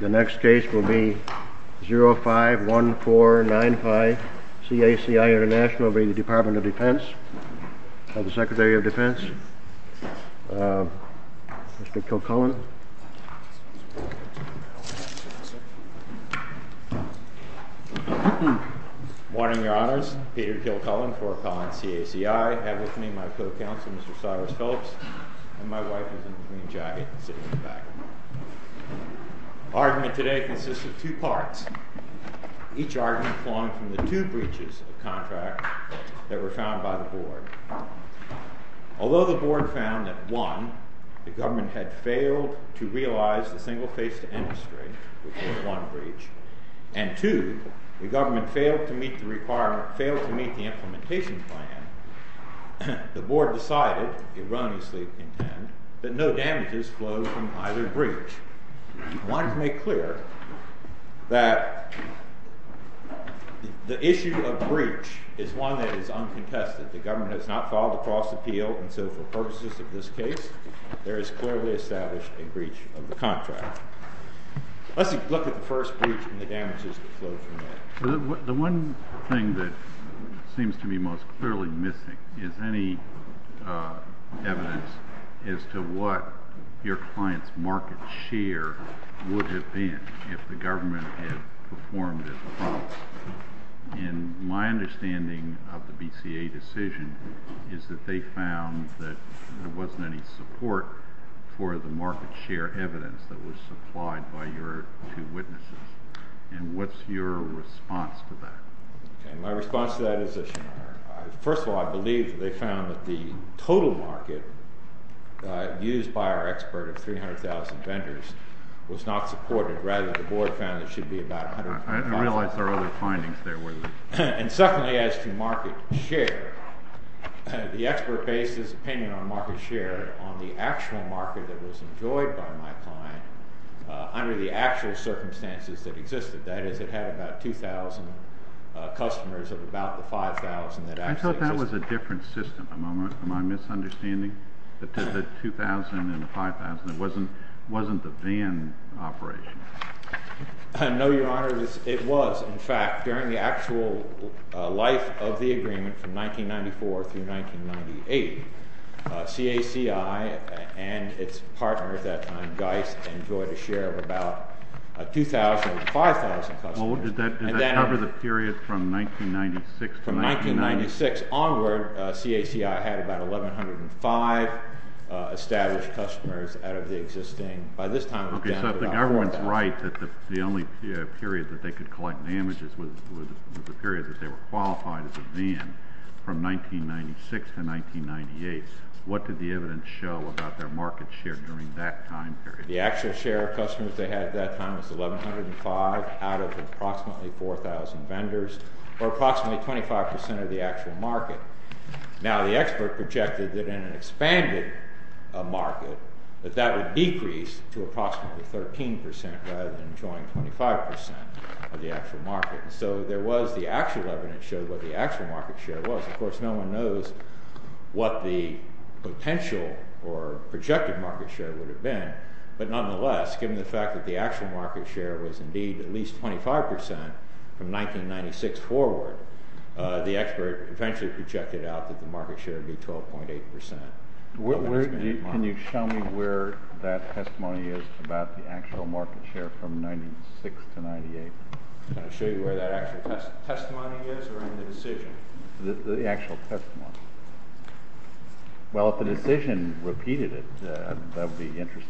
The next case will be 051495 CACI International v. Department of Defense. Secretary of Defense, Mr. Kilcullen. Good morning, Your Honors. Peter Kilcullen for Colin CACI. I have with me my co-counsel, Mr. Cyrus Phillips, and my wife is in the green jacket sitting in the back. The argument today consists of two parts. Each argument flung from the two breaches of contract that were found by the Board. Although the Board found that, one, the government had failed to realize the single-phase-to-end restraint, which was one breach, and, two, the government failed to meet the implementation plan, the Board decided, erroneously intend, that no damages flow from either breach. I want to make clear that the issue of breach is one that is uncontested. The government has not filed a false appeal, and so for purposes of this case, there is clearly established a breach of the contract. Let's look at the first breach and the damages that flow from it. The one thing that seems to me most clearly missing is any evidence as to what your client's market share would have been if the government had performed as promised. And my understanding of the BCA decision is that they found that there wasn't any support for the market share evidence that was supplied by your two witnesses. And what's your response to that? My response to that is that, first of all, I believe that they found that the total market share used by our expert of 300,000 vendors was not supported. Rather, the Board found it should be about 150,000. I realize there are other findings there. And secondly, as to market share, the expert based his opinion on market share on the actual market that was enjoyed by my client under the actual circumstances that existed. That is, it had about 2,000 customers of about the 5,000 that actually existed. I thought that was a different system. Am I misunderstanding the 2,000 and the 5,000? It wasn't the van operation? No, Your Honor, it was. In fact, during the actual life of the agreement from 1994 through 1998, CACI and its partner at that time, Geist, enjoyed a share of about 2,000 to 5,000 customers. Did that cover the period from 1996 to 1999? From 1996 onward, CACI had about 1,105 established customers out of the existing. By this time, it was down to about 4,000. Okay, so if the government's right that the only period that they could collect damages was the period that they were qualified as a van from 1996 to 1998, what did the evidence show about their market share during that time period? The actual share of customers they had at that time was 1,105 out of approximately 4,000 vendors or approximately 25% of the actual market. Now, the expert projected that in an expanded market that that would decrease to approximately 13% rather than enjoying 25% of the actual market. So there was the actual evidence that showed what the actual market share was. Of course, no one knows what the potential or projected market share would have been, but nonetheless, given the fact that the actual market share was indeed at least 25% from 1996 forward, the expert eventually projected out that the market share would be 12.8%. Can you show me where that testimony is about the actual market share from 1996 to 1998? To show you where that actual testimony is or in the decision? The actual testimony. Well, if the decision repeated it, that would be interesting.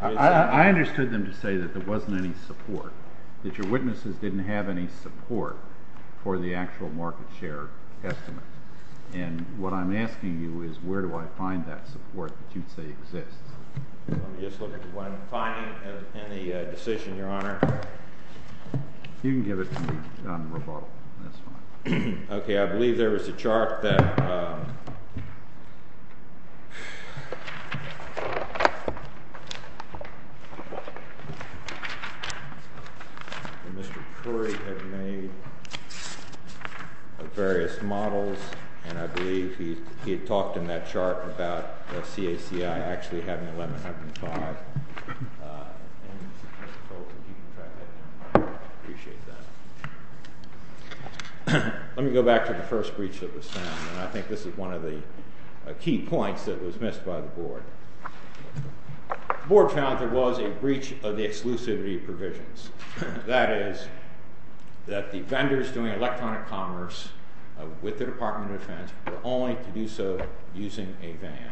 I understood them to say that there wasn't any support, that your witnesses didn't have any support for the actual market share estimate. And what I'm asking you is where do I find that support that you'd say exists? Let me just look at what I'm finding in the decision, Your Honor. You can give it to me. Okay, I believe there was a chart that Mr. Curry had made of various models, and I believe he had talked in that chart about CACI actually having 1105. And I hope that you can track that down. I appreciate that. Let me go back to the first breach that was found, and I think this is one of the key points that was missed by the Board. The Board found there was a breach of the exclusivity provisions. That is, that the vendors doing electronic commerce with the Department of Defense were only to do so using a van.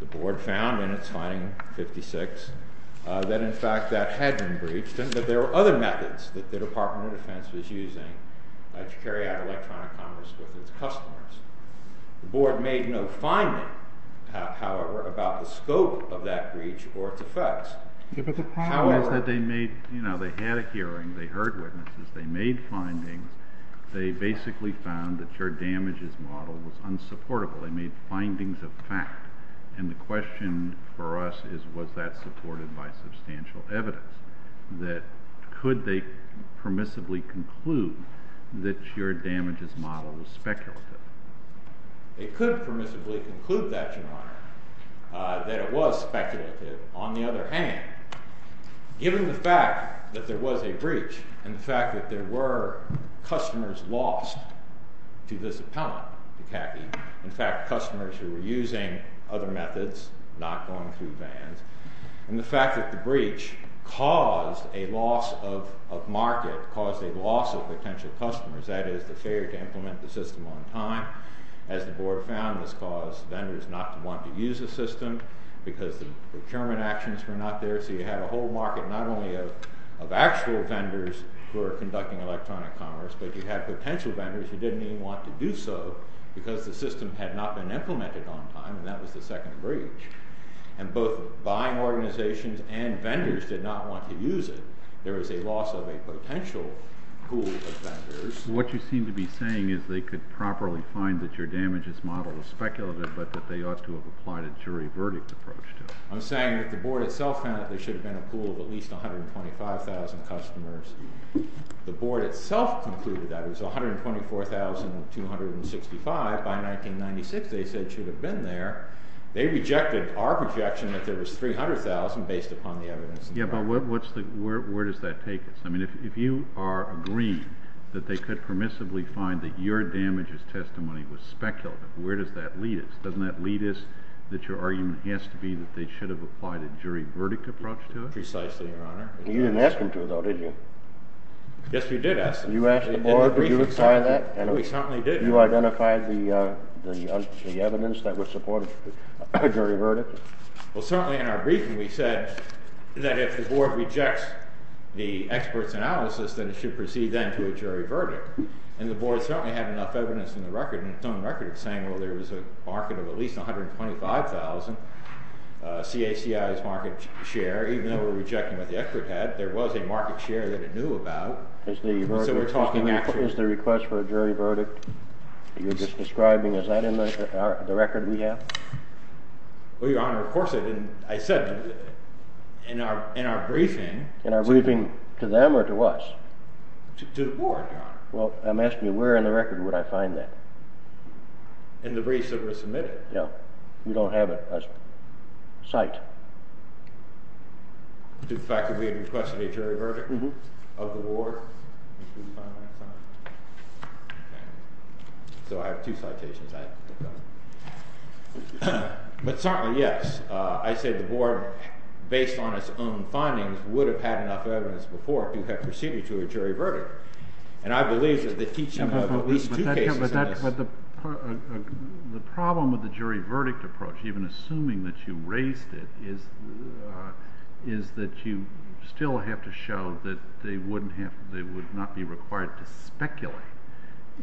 The Board found in its finding 56 that, in fact, that had been breached, and that there were other methods that the Department of Defense was using to carry out electronic commerce with its customers. The Board made no finding, however, about the scope of that breach or its effects. The problem is that they made, you know, they had a hearing, they heard witnesses, they made findings. They basically found that your damages model was unsupportable. They made findings of fact. And the question for us is, was that supported by substantial evidence? Could they permissibly conclude that your damages model was speculative? They could permissibly conclude that, Your Honor, that it was speculative. On the other hand, given the fact that there was a breach and the fact that there were customers lost to this appellant, CACI, in fact, customers who were using other methods, not going through vans, and the fact that the breach caused a loss of market, caused a loss of potential customers, that is the failure to implement the system on time. As the Board found, this caused vendors not to want to use the system because the procurement actions were not there. So you had a whole market not only of actual vendors who were conducting electronic commerce, but you had potential vendors who didn't even want to do so because the system had not been implemented on time, and that was the second breach. And both buying organizations and vendors did not want to use it. There was a loss of a potential pool of vendors. What you seem to be saying is they could properly find that your damages model was speculative, but that they ought to have applied a jury verdict approach to it. I'm saying that the Board itself found that there should have been a pool of at least 125,000 customers. The Board itself concluded that it was 124,265. By 1996, they said it should have been there. They rejected our projection that there was 300,000 based upon the evidence. Yeah, but where does that take us? I mean, if you are agreeing that they could permissibly find that your damages testimony was speculative, where does that lead us? Doesn't that lead us that your argument has to be Precisely, Your Honor. You didn't ask them to, though, did you? Yes, we did ask them. You asked the Board, did you apply that? We certainly did. You identified the evidence that would support a jury verdict? Well, certainly in our briefing we said that if the Board rejects the expert's analysis, then it should proceed then to a jury verdict. And the Board certainly had enough evidence in its own record of saying, well, there was a market of at least 125,000 CACIs market share, even though we're rejecting what the expert had, there was a market share that it knew about. So we're talking actually Is the request for a jury verdict you're just describing, is that in the record we have? Well, Your Honor, of course it is. I said in our briefing In our briefing to them or to us? To the Board, Your Honor. Well, I'm asking you, where in the record would I find that? In the briefs that were submitted. We don't have it as a site. To the fact that we had requested a jury verdict of the Board? So I have two citations. But certainly, yes, I said the Board, based on its own findings, would have had enough evidence before to have proceeded to a jury verdict. And I believe that the teaching of at least two cases in this The problem with the jury verdict approach, even assuming that you raised it, is that you still have to show that they would not be required to speculate.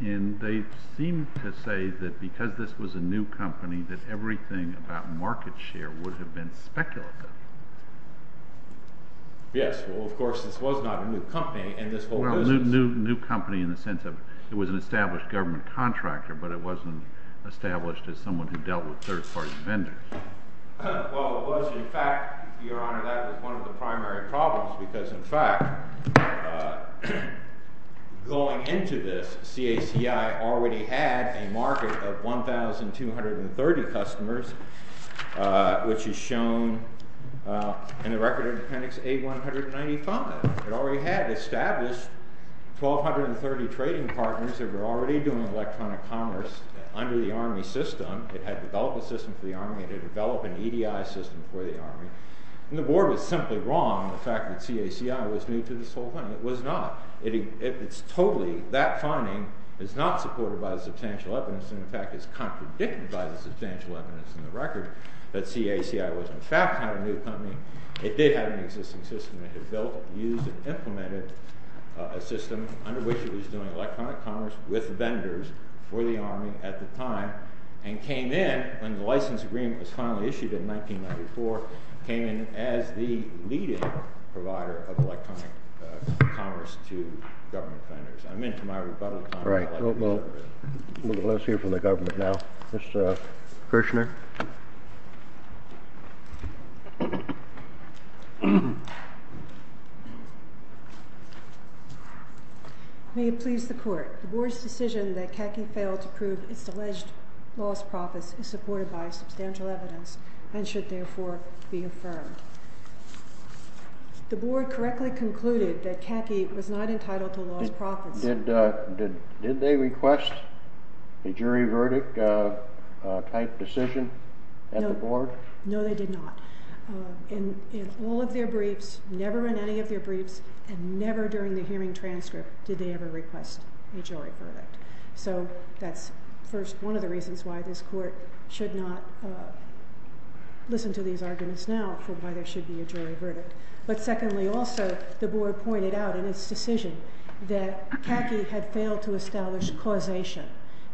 And they seem to say that because this was a new company that everything about market share would have been speculative. Yes, well, of course, this was not a new company and this whole business Well, new company in the sense of it was an established government contractor, but it wasn't established as someone who dealt with third-party vendors. Well, it was. In fact, Your Honor, that was one of the primary problems because, in fact, going into this, CACI already had a market of 1,230 customers, which is shown in the record of Appendix A-195. It already had established 1,230 trading partners that were already doing electronic commerce under the Army system. It had developed a system for the Army. It had developed an EDI system for the Army. And the board was simply wrong in the fact that CACI was new to this whole thing. It was not. It's totally, that finding is not supported by the substantial evidence and, in fact, is contradicted by the substantial evidence in the record that CACI was, in fact, a new company. It had built, used, and implemented a system under which it was doing electronic commerce with vendors for the Army at the time and came in when the license agreement was finally issued in 1994, came in as the leading provider of electronic commerce to government vendors. I'm into my rebuttal time. All right. Well, let's hear from the government now. Mr. Kirshner. May it please the court. The board's decision that CACI failed to prove its alleged lost profits is supported by substantial evidence and should, therefore, be affirmed. The board correctly concluded that CACI was not entitled to lost profits. Did they request a jury verdict type decision at the board? No, they did not. In all of their briefs, never in any of their briefs, and never during the hearing transcript, did they ever request a jury verdict. So that's, first, one of the reasons why this court should not listen to these arguments now for why there should be a jury verdict. But, secondly, also, the board pointed out in its decision that CACI had failed to establish causation,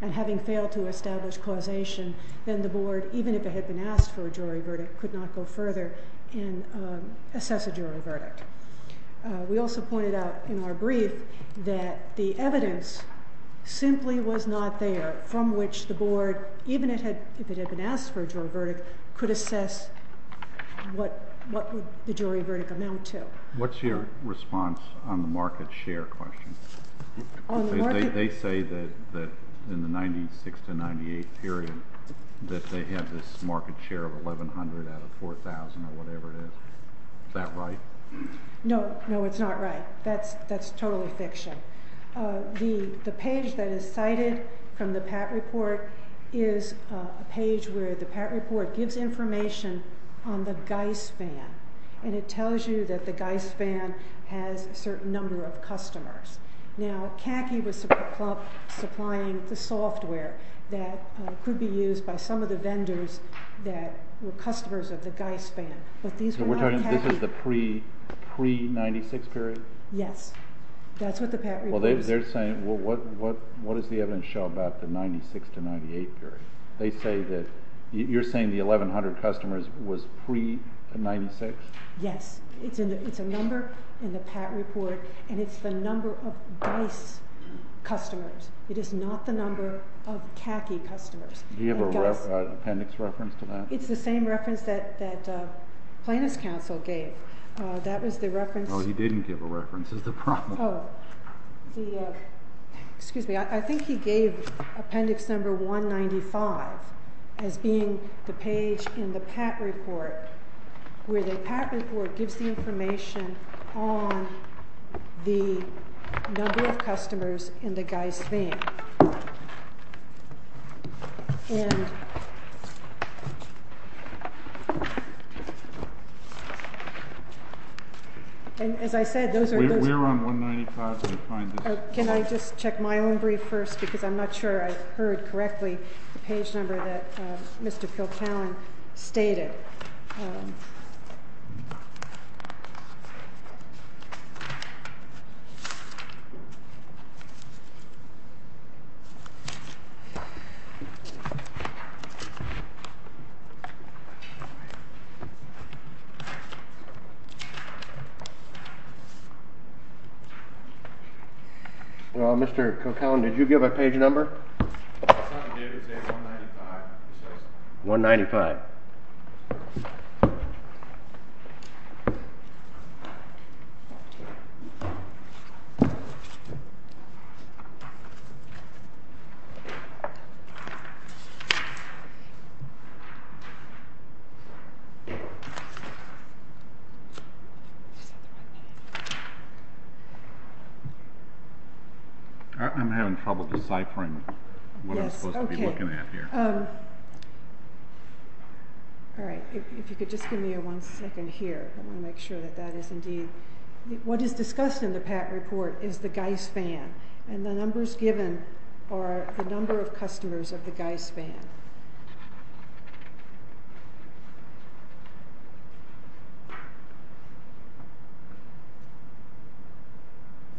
and having failed to establish causation, then the board, even if it had been asked for a jury verdict, could not go further and assess a jury verdict. We also pointed out in our brief that the evidence simply was not there from which the board, even if it had been asked for a jury verdict, could assess what the jury verdict amounted to. What's your response on the market share question? They say that in the 96 to 98 period, that they had this market share of $1,100 out of $4,000 or whatever it is. Is that right? No. No, it's not right. That's totally fiction. The page that is cited from the PAT report is a page where the PAT report gives information on the Geist van, and it tells you that the Geist van has a certain number of customers. Now, CACI was supplying the software that could be used by some of the vendors that were customers of the Geist van, but these were not CACI. So we're talking this is the pre-'96 period? Yes. That's what the PAT report is. Well, they're saying what does the evidence show about the 96 to 98 period? They say that you're saying the 1,100 customers was pre-'96? Yes. It's a number in the PAT report, and it's the number of Geist customers. It is not the number of CACI customers. Do you have an appendix reference to that? It's the same reference that plaintiff's counsel gave. That was the reference. No, he didn't give a reference. That's the problem. Excuse me. I think he gave appendix number 195 as being the page in the PAT report where the PAT report gives the information on the number of customers in the Geist van. And as I said, those are those— We're on 195. Can I just check my own brief first because I'm not sure I heard correctly the page number that Mr. Kilcallen stated. Mr. Kilcallen, did you give a page number? It's not the date. It says 195. 195. All right. I'm having trouble deciphering what I'm supposed to be looking at here. All right. If you could just give me one second here. I want to make sure that that is indeed— What is discussed in the PAT report is the Geist van, and the numbers given are the number of customers of the Geist van.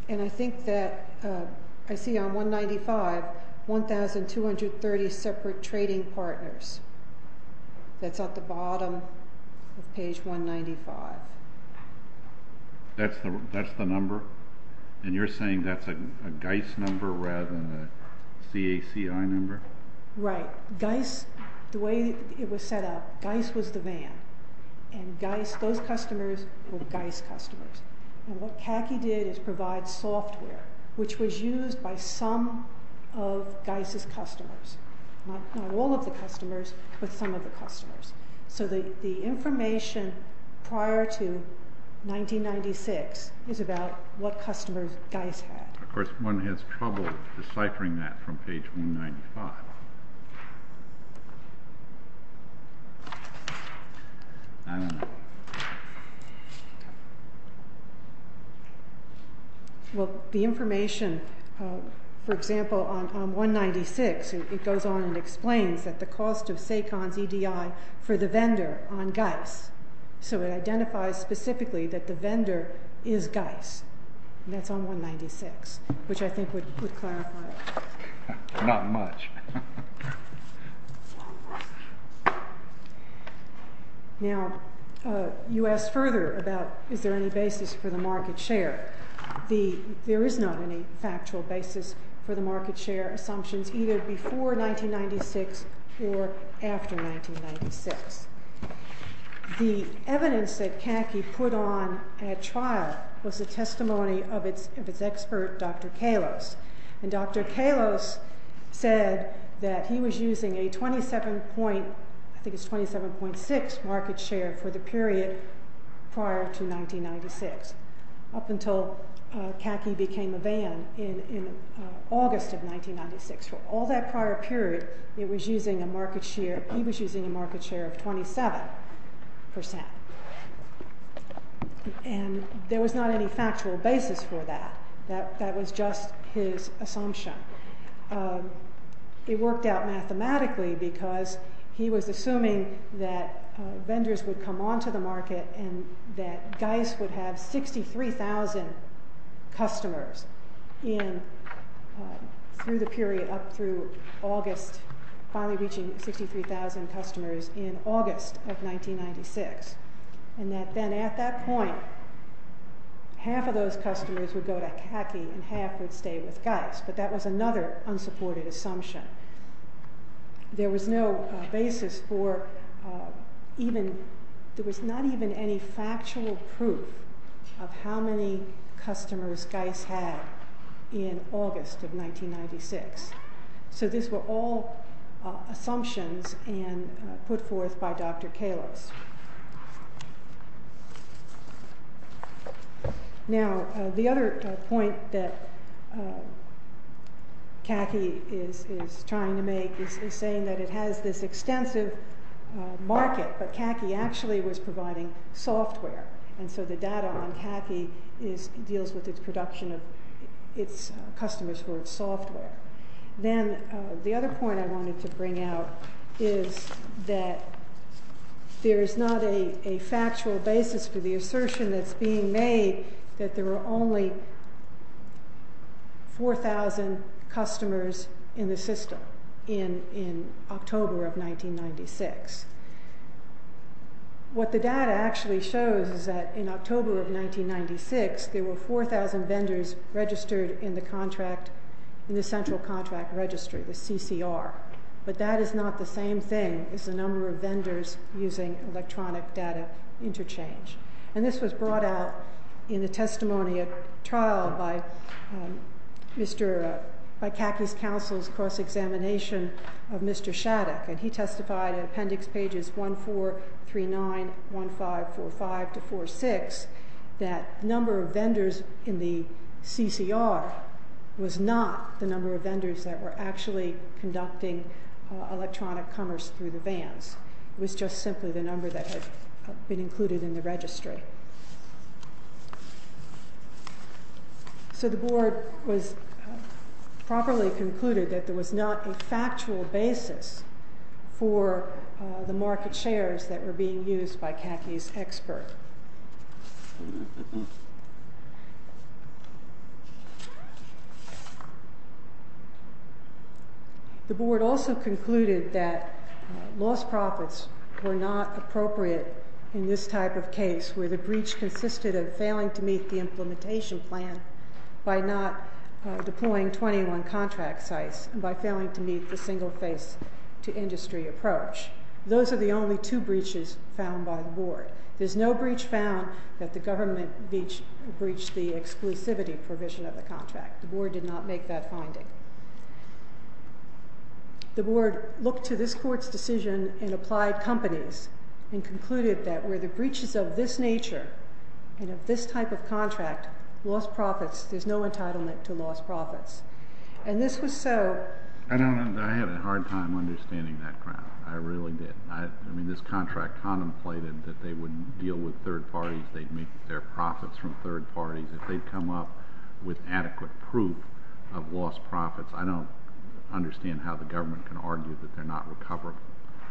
And I think that—I see on 195, 1,230 separate trading partners. That's at the bottom of page 195. That's the number? And you're saying that's a Geist number rather than a CACI number? Right. Geist, the way it was set up, Geist was the van, and Geist, those customers were Geist customers. And what CACI did is provide software, which was used by some of Geist's customers. Not all of the customers, but some of the customers. So the information prior to 1996 is about what customers Geist had. Of course, one has trouble deciphering that from page 195. I don't know. Well, the information, for example, on 196, it goes on and explains that the cost of SACON's EDI for the vendor on Geist. So it identifies specifically that the vendor is Geist. And that's on 196, which I think would clarify it. Not much. Now, you asked further about is there any basis for the market share. There is not any factual basis for the market share assumptions either before 1996 or after 1996. The evidence that CACI put on at trial was the testimony of its expert, Dr. Kalos. And Dr. Kalos said that he was using a 27.6 market share for the period prior to 1996, up until CACI became a ban in August of 1996. For all that prior period, he was using a market share of 27%. And there was not any factual basis for that. That was just his assumption. It worked out mathematically because he was assuming that vendors would come onto the market and that Geist would have 63,000 customers through the period up through August, finally reaching 63,000 customers in August of 1996. And that then at that point, half of those customers would go to CACI and half would stay with Geist. But that was another unsupported assumption. There was no basis for even – there was not even any factual proof of how many customers Geist had in August of 1996. So these were all assumptions put forth by Dr. Kalos. Now, the other point that CACI is trying to make is saying that it has this extensive market, but CACI actually was providing software. And so the data on CACI deals with its production of its customers for its software. Then the other point I wanted to bring out is that there is not a factual basis for the assertion that's being made that there were only 4,000 customers in the system in October of 1996. What the data actually shows is that in October of 1996, there were 4,000 vendors registered in the contract – in the central contract registry, the CCR. But that is not the same thing as the number of vendors using electronic data interchange. And this was brought out in a testimony at trial by Mr. – by CACI's counsel's cross-examination of Mr. Shattuck. And he testified in appendix pages 1, 4, 3, 9, 1, 5, 4, 5 to 4, 6, that the number of vendors in the CCR was not the number of vendors that were actually conducting electronic commerce through the vans. It was just simply the number that had been included in the registry. So the Board was – properly concluded that there was not a factual basis for the market shares that were being used by CACI's expert. The Board also concluded that lost profits were not appropriate in this type of case where the breach consisted of failing to meet the implementation plan by not deploying 21 contract sites and by failing to meet the single-phase-to-industry approach. Those are the only two breaches found by the Board. There's no breach found that the government breached the exclusivity provision of the contract. The Board did not make that finding. The Board looked to this Court's decision and applied companies and concluded that where the breaches of this nature and of this type of contract, lost profits, there's no entitlement to lost profits. And this was so. I had a hard time understanding that ground. I really did. I mean, this contract contemplated that they would deal with third parties. They'd make their profits from third parties. If they'd come up with adequate proof of lost profits, I don't understand how the government can argue that they're not recoverable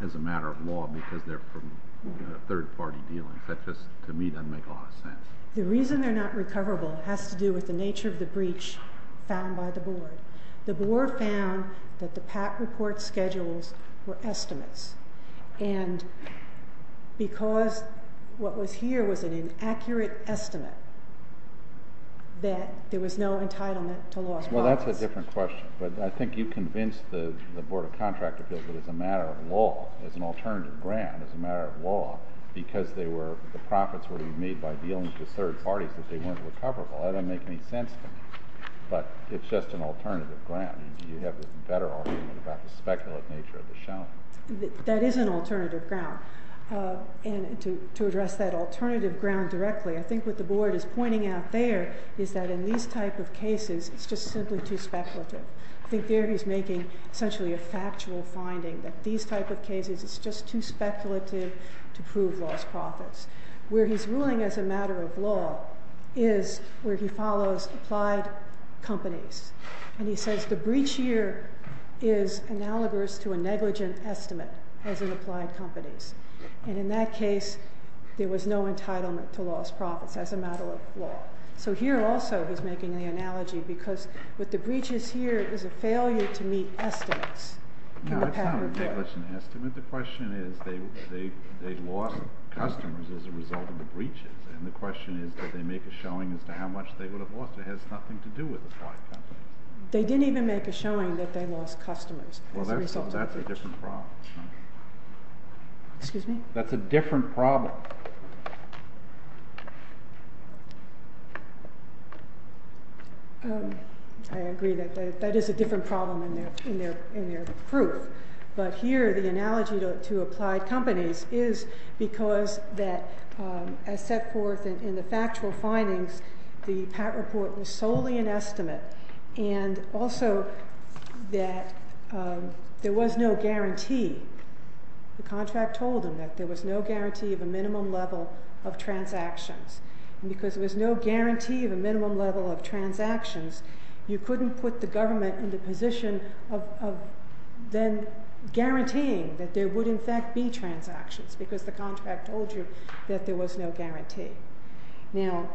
as a matter of law because they're from a third-party deal. That just, to me, doesn't make a lot of sense. The reason they're not recoverable has to do with the nature of the breach found by the Board. The Board found that the PAC report schedules were estimates. And because what was here was an inaccurate estimate, that there was no entitlement to lost profits. Well, that's a different question. But I think you convinced the Board of Contract Appeals that as a matter of law, as an alternative ground, as a matter of law, because the profits were to be made by dealing with third parties, that they weren't recoverable. That doesn't make any sense to me. But it's just an alternative ground. You have a better argument about the speculative nature of the shelling. That is an alternative ground. And to address that alternative ground directly, I think what the Board is pointing out there is that in these type of cases, it's just simply too speculative. I think there he's making essentially a factual finding that these type of cases, it's just too speculative to prove lost profits. Where he's ruling as a matter of law is where he follows applied companies. And he says the breach year is analogous to a negligent estimate as in applied companies. And in that case, there was no entitlement to lost profits as a matter of law. So here also he's making the analogy because with the breaches here, it was a failure to meet estimates. It's not a negligent estimate. The question is they lost customers as a result of the breaches. And the question is did they make a showing as to how much they would have lost. It has nothing to do with applied companies. They didn't even make a showing that they lost customers. Well, that's a different problem. Excuse me? That's a different problem. I agree that that is a different problem in their proof. But here the analogy to applied companies is because that as set forth in the factual findings, the PAT report was solely an estimate. And also that there was no guarantee. The contract told them that there was no guarantee of a minimum level of transactions. And because there was no guarantee of a minimum level of transactions, you couldn't put the government in the position of then guaranteeing that there would, in fact, be transactions because the contract told you that there was no guarantee. Now,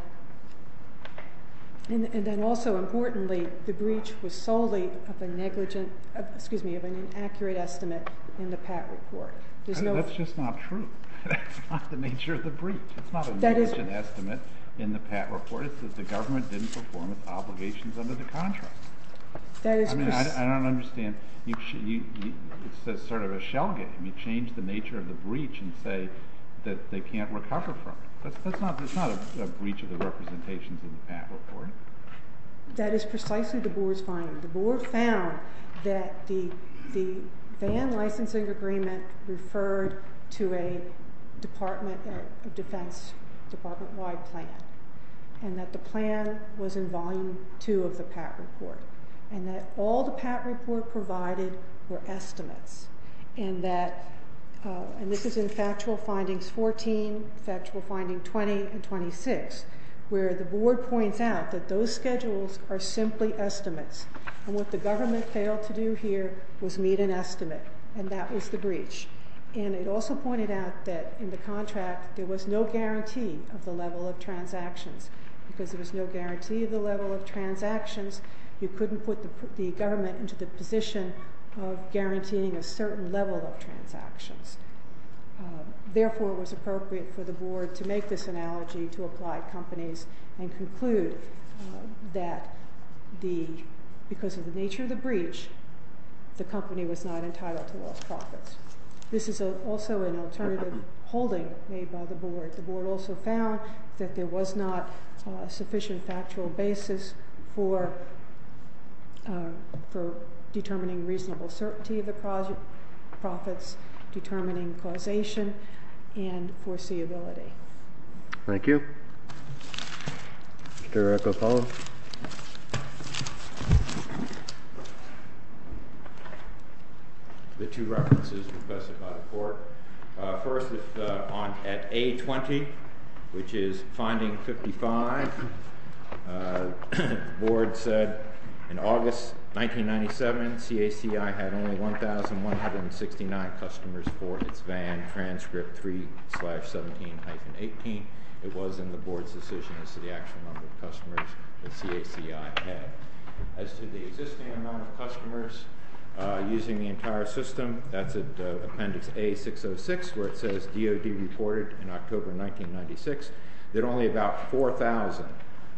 and then also importantly, the breach was solely of an accurate estimate in the PAT report. That's just not true. That's not the nature of the breach. It's not an accurate estimate in the PAT report. It's that the government didn't perform its obligations under the contract. I mean, I don't understand. It's sort of a shell game. You change the nature of the breach and say that they can't recover from it. That's not a breach of the representations in the PAT report. That is precisely the board's finding. The board found that the van licensing agreement referred to a Department of Defense department-wide plan and that the plan was in Volume 2 of the PAT report and that all the PAT report provided were estimates and that this is in Factual Findings 14, Factual Finding 20, and 26, where the board points out that those schedules are simply estimates. And what the government failed to do here was meet an estimate, and that was the breach. And it also pointed out that in the contract there was no guarantee of the level of transactions. Because there was no guarantee of the level of transactions, you couldn't put the government into the position of guaranteeing a certain level of transactions. Therefore, it was appropriate for the board to make this analogy to applied companies and conclude that because of the nature of the breach, the company was not entitled to lost profits. This is also an alternative holding made by the board. The board also found that there was not a sufficient factual basis for determining reasonable certainty of the profits, determining causation and foreseeability. Thank you. Mr. O'Connell. The two references requested by the court. First, at A-20, which is Finding 55, the board said in August 1997, CACI had only 1,169 customers for its VAN transcript 3-17-18. It was in the board's decision as to the actual number of customers that CACI had. As to the existing amount of customers using the entire system, that's at Appendix A-606, where it says DOD reported in October 1996 that only about 4,000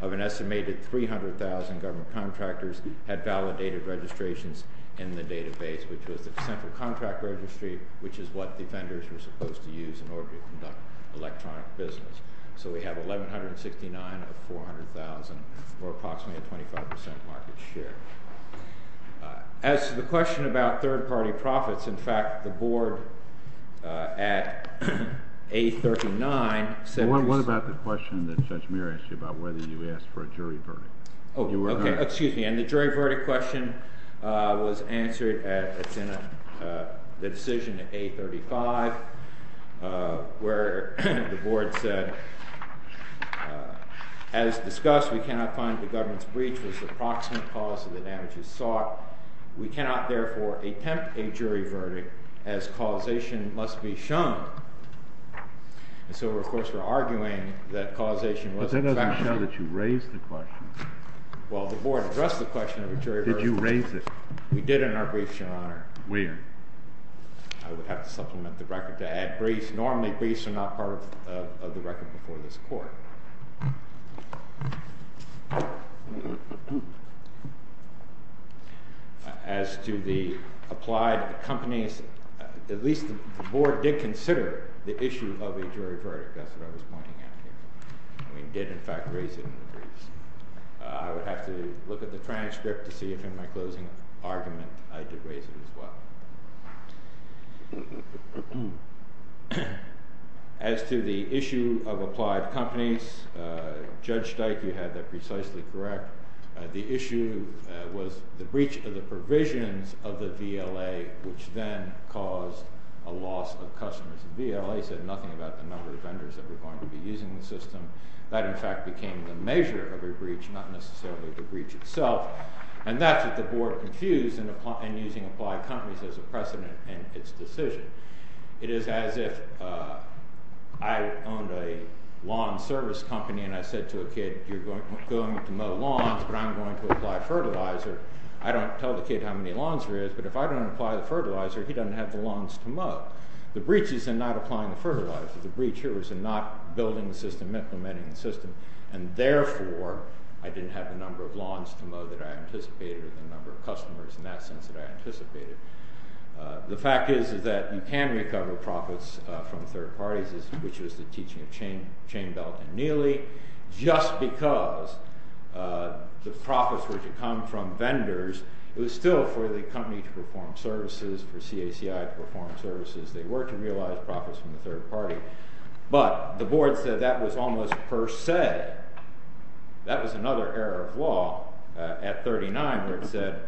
of an estimated 300,000 government contractors had validated registrations in the database, which was the central contract registry, which is what defenders were supposed to use in order to conduct electronic business. So we have 1,169 of 400,000, or approximately a 25% market share. As to the question about third-party profits, in fact, the board at A-39 said What about the question that Judge Muir asked you about whether you asked for a jury verdict? Okay, excuse me. And the jury verdict question was answered at the decision at A-35, where the board said, as discussed, we cannot find the government's breach was the proximate cause of the damages sought. We cannot, therefore, attempt a jury verdict, as causation must be shown. And so, of course, we're arguing that causation was a factor. But that doesn't show that you raised the question. Well, the board addressed the question of a jury verdict. Did you raise it? We did in our brief, Your Honor. Where? I would have to supplement the record to add briefs. Normally, briefs are not part of the record before this court. As to the applied companies, at least the board did consider the issue of a jury verdict. That's what I was pointing out here. We did, in fact, raise it in the briefs. I would have to look at the transcript to see if, in my closing argument, I did raise it as well. As to the issue of applied companies, Judge Steik, you had that precisely correct. The issue was the breach of the provisions of the VLA, which then caused a loss of customers. The VLA said nothing about the number of vendors that were going to be using the system. That, in fact, became the measure of a breach, not necessarily the breach itself. And that's what the board confused in using applied companies as a precedent in its decision. It is as if I owned a lawn service company and I said to a kid, you're going to mow lawns, but I'm going to apply fertilizer. I don't tell the kid how many lawns there is, but if I don't apply the fertilizer, he doesn't have the lawns to mow. The breach is in not applying the fertilizer. The breach here was in not building the system, implementing the system, and, therefore, I didn't have the number of lawns to mow that I anticipated or the number of customers in that sense that I anticipated. The fact is that you can recover profits from third parties, which is the teaching of Chainbelt and Neely. Just because the profits were to come from vendors, it was still for the company to perform services, for CACI to perform services. They were to realize profits from the third party. But the board said that was almost per se. That was another error of law at 39 where it said,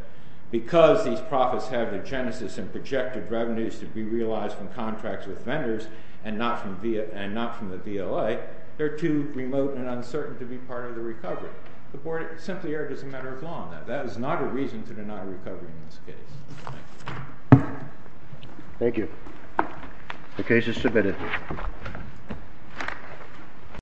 because these profits have the genesis and projected revenues to be realized from contracts with vendors and not from the VLA, they're too remote and uncertain to be part of the recovery. The board simply erred as a matter of law on that. That is not a reason to deny recovery in this case. Thank you. Thank you. The case is submitted.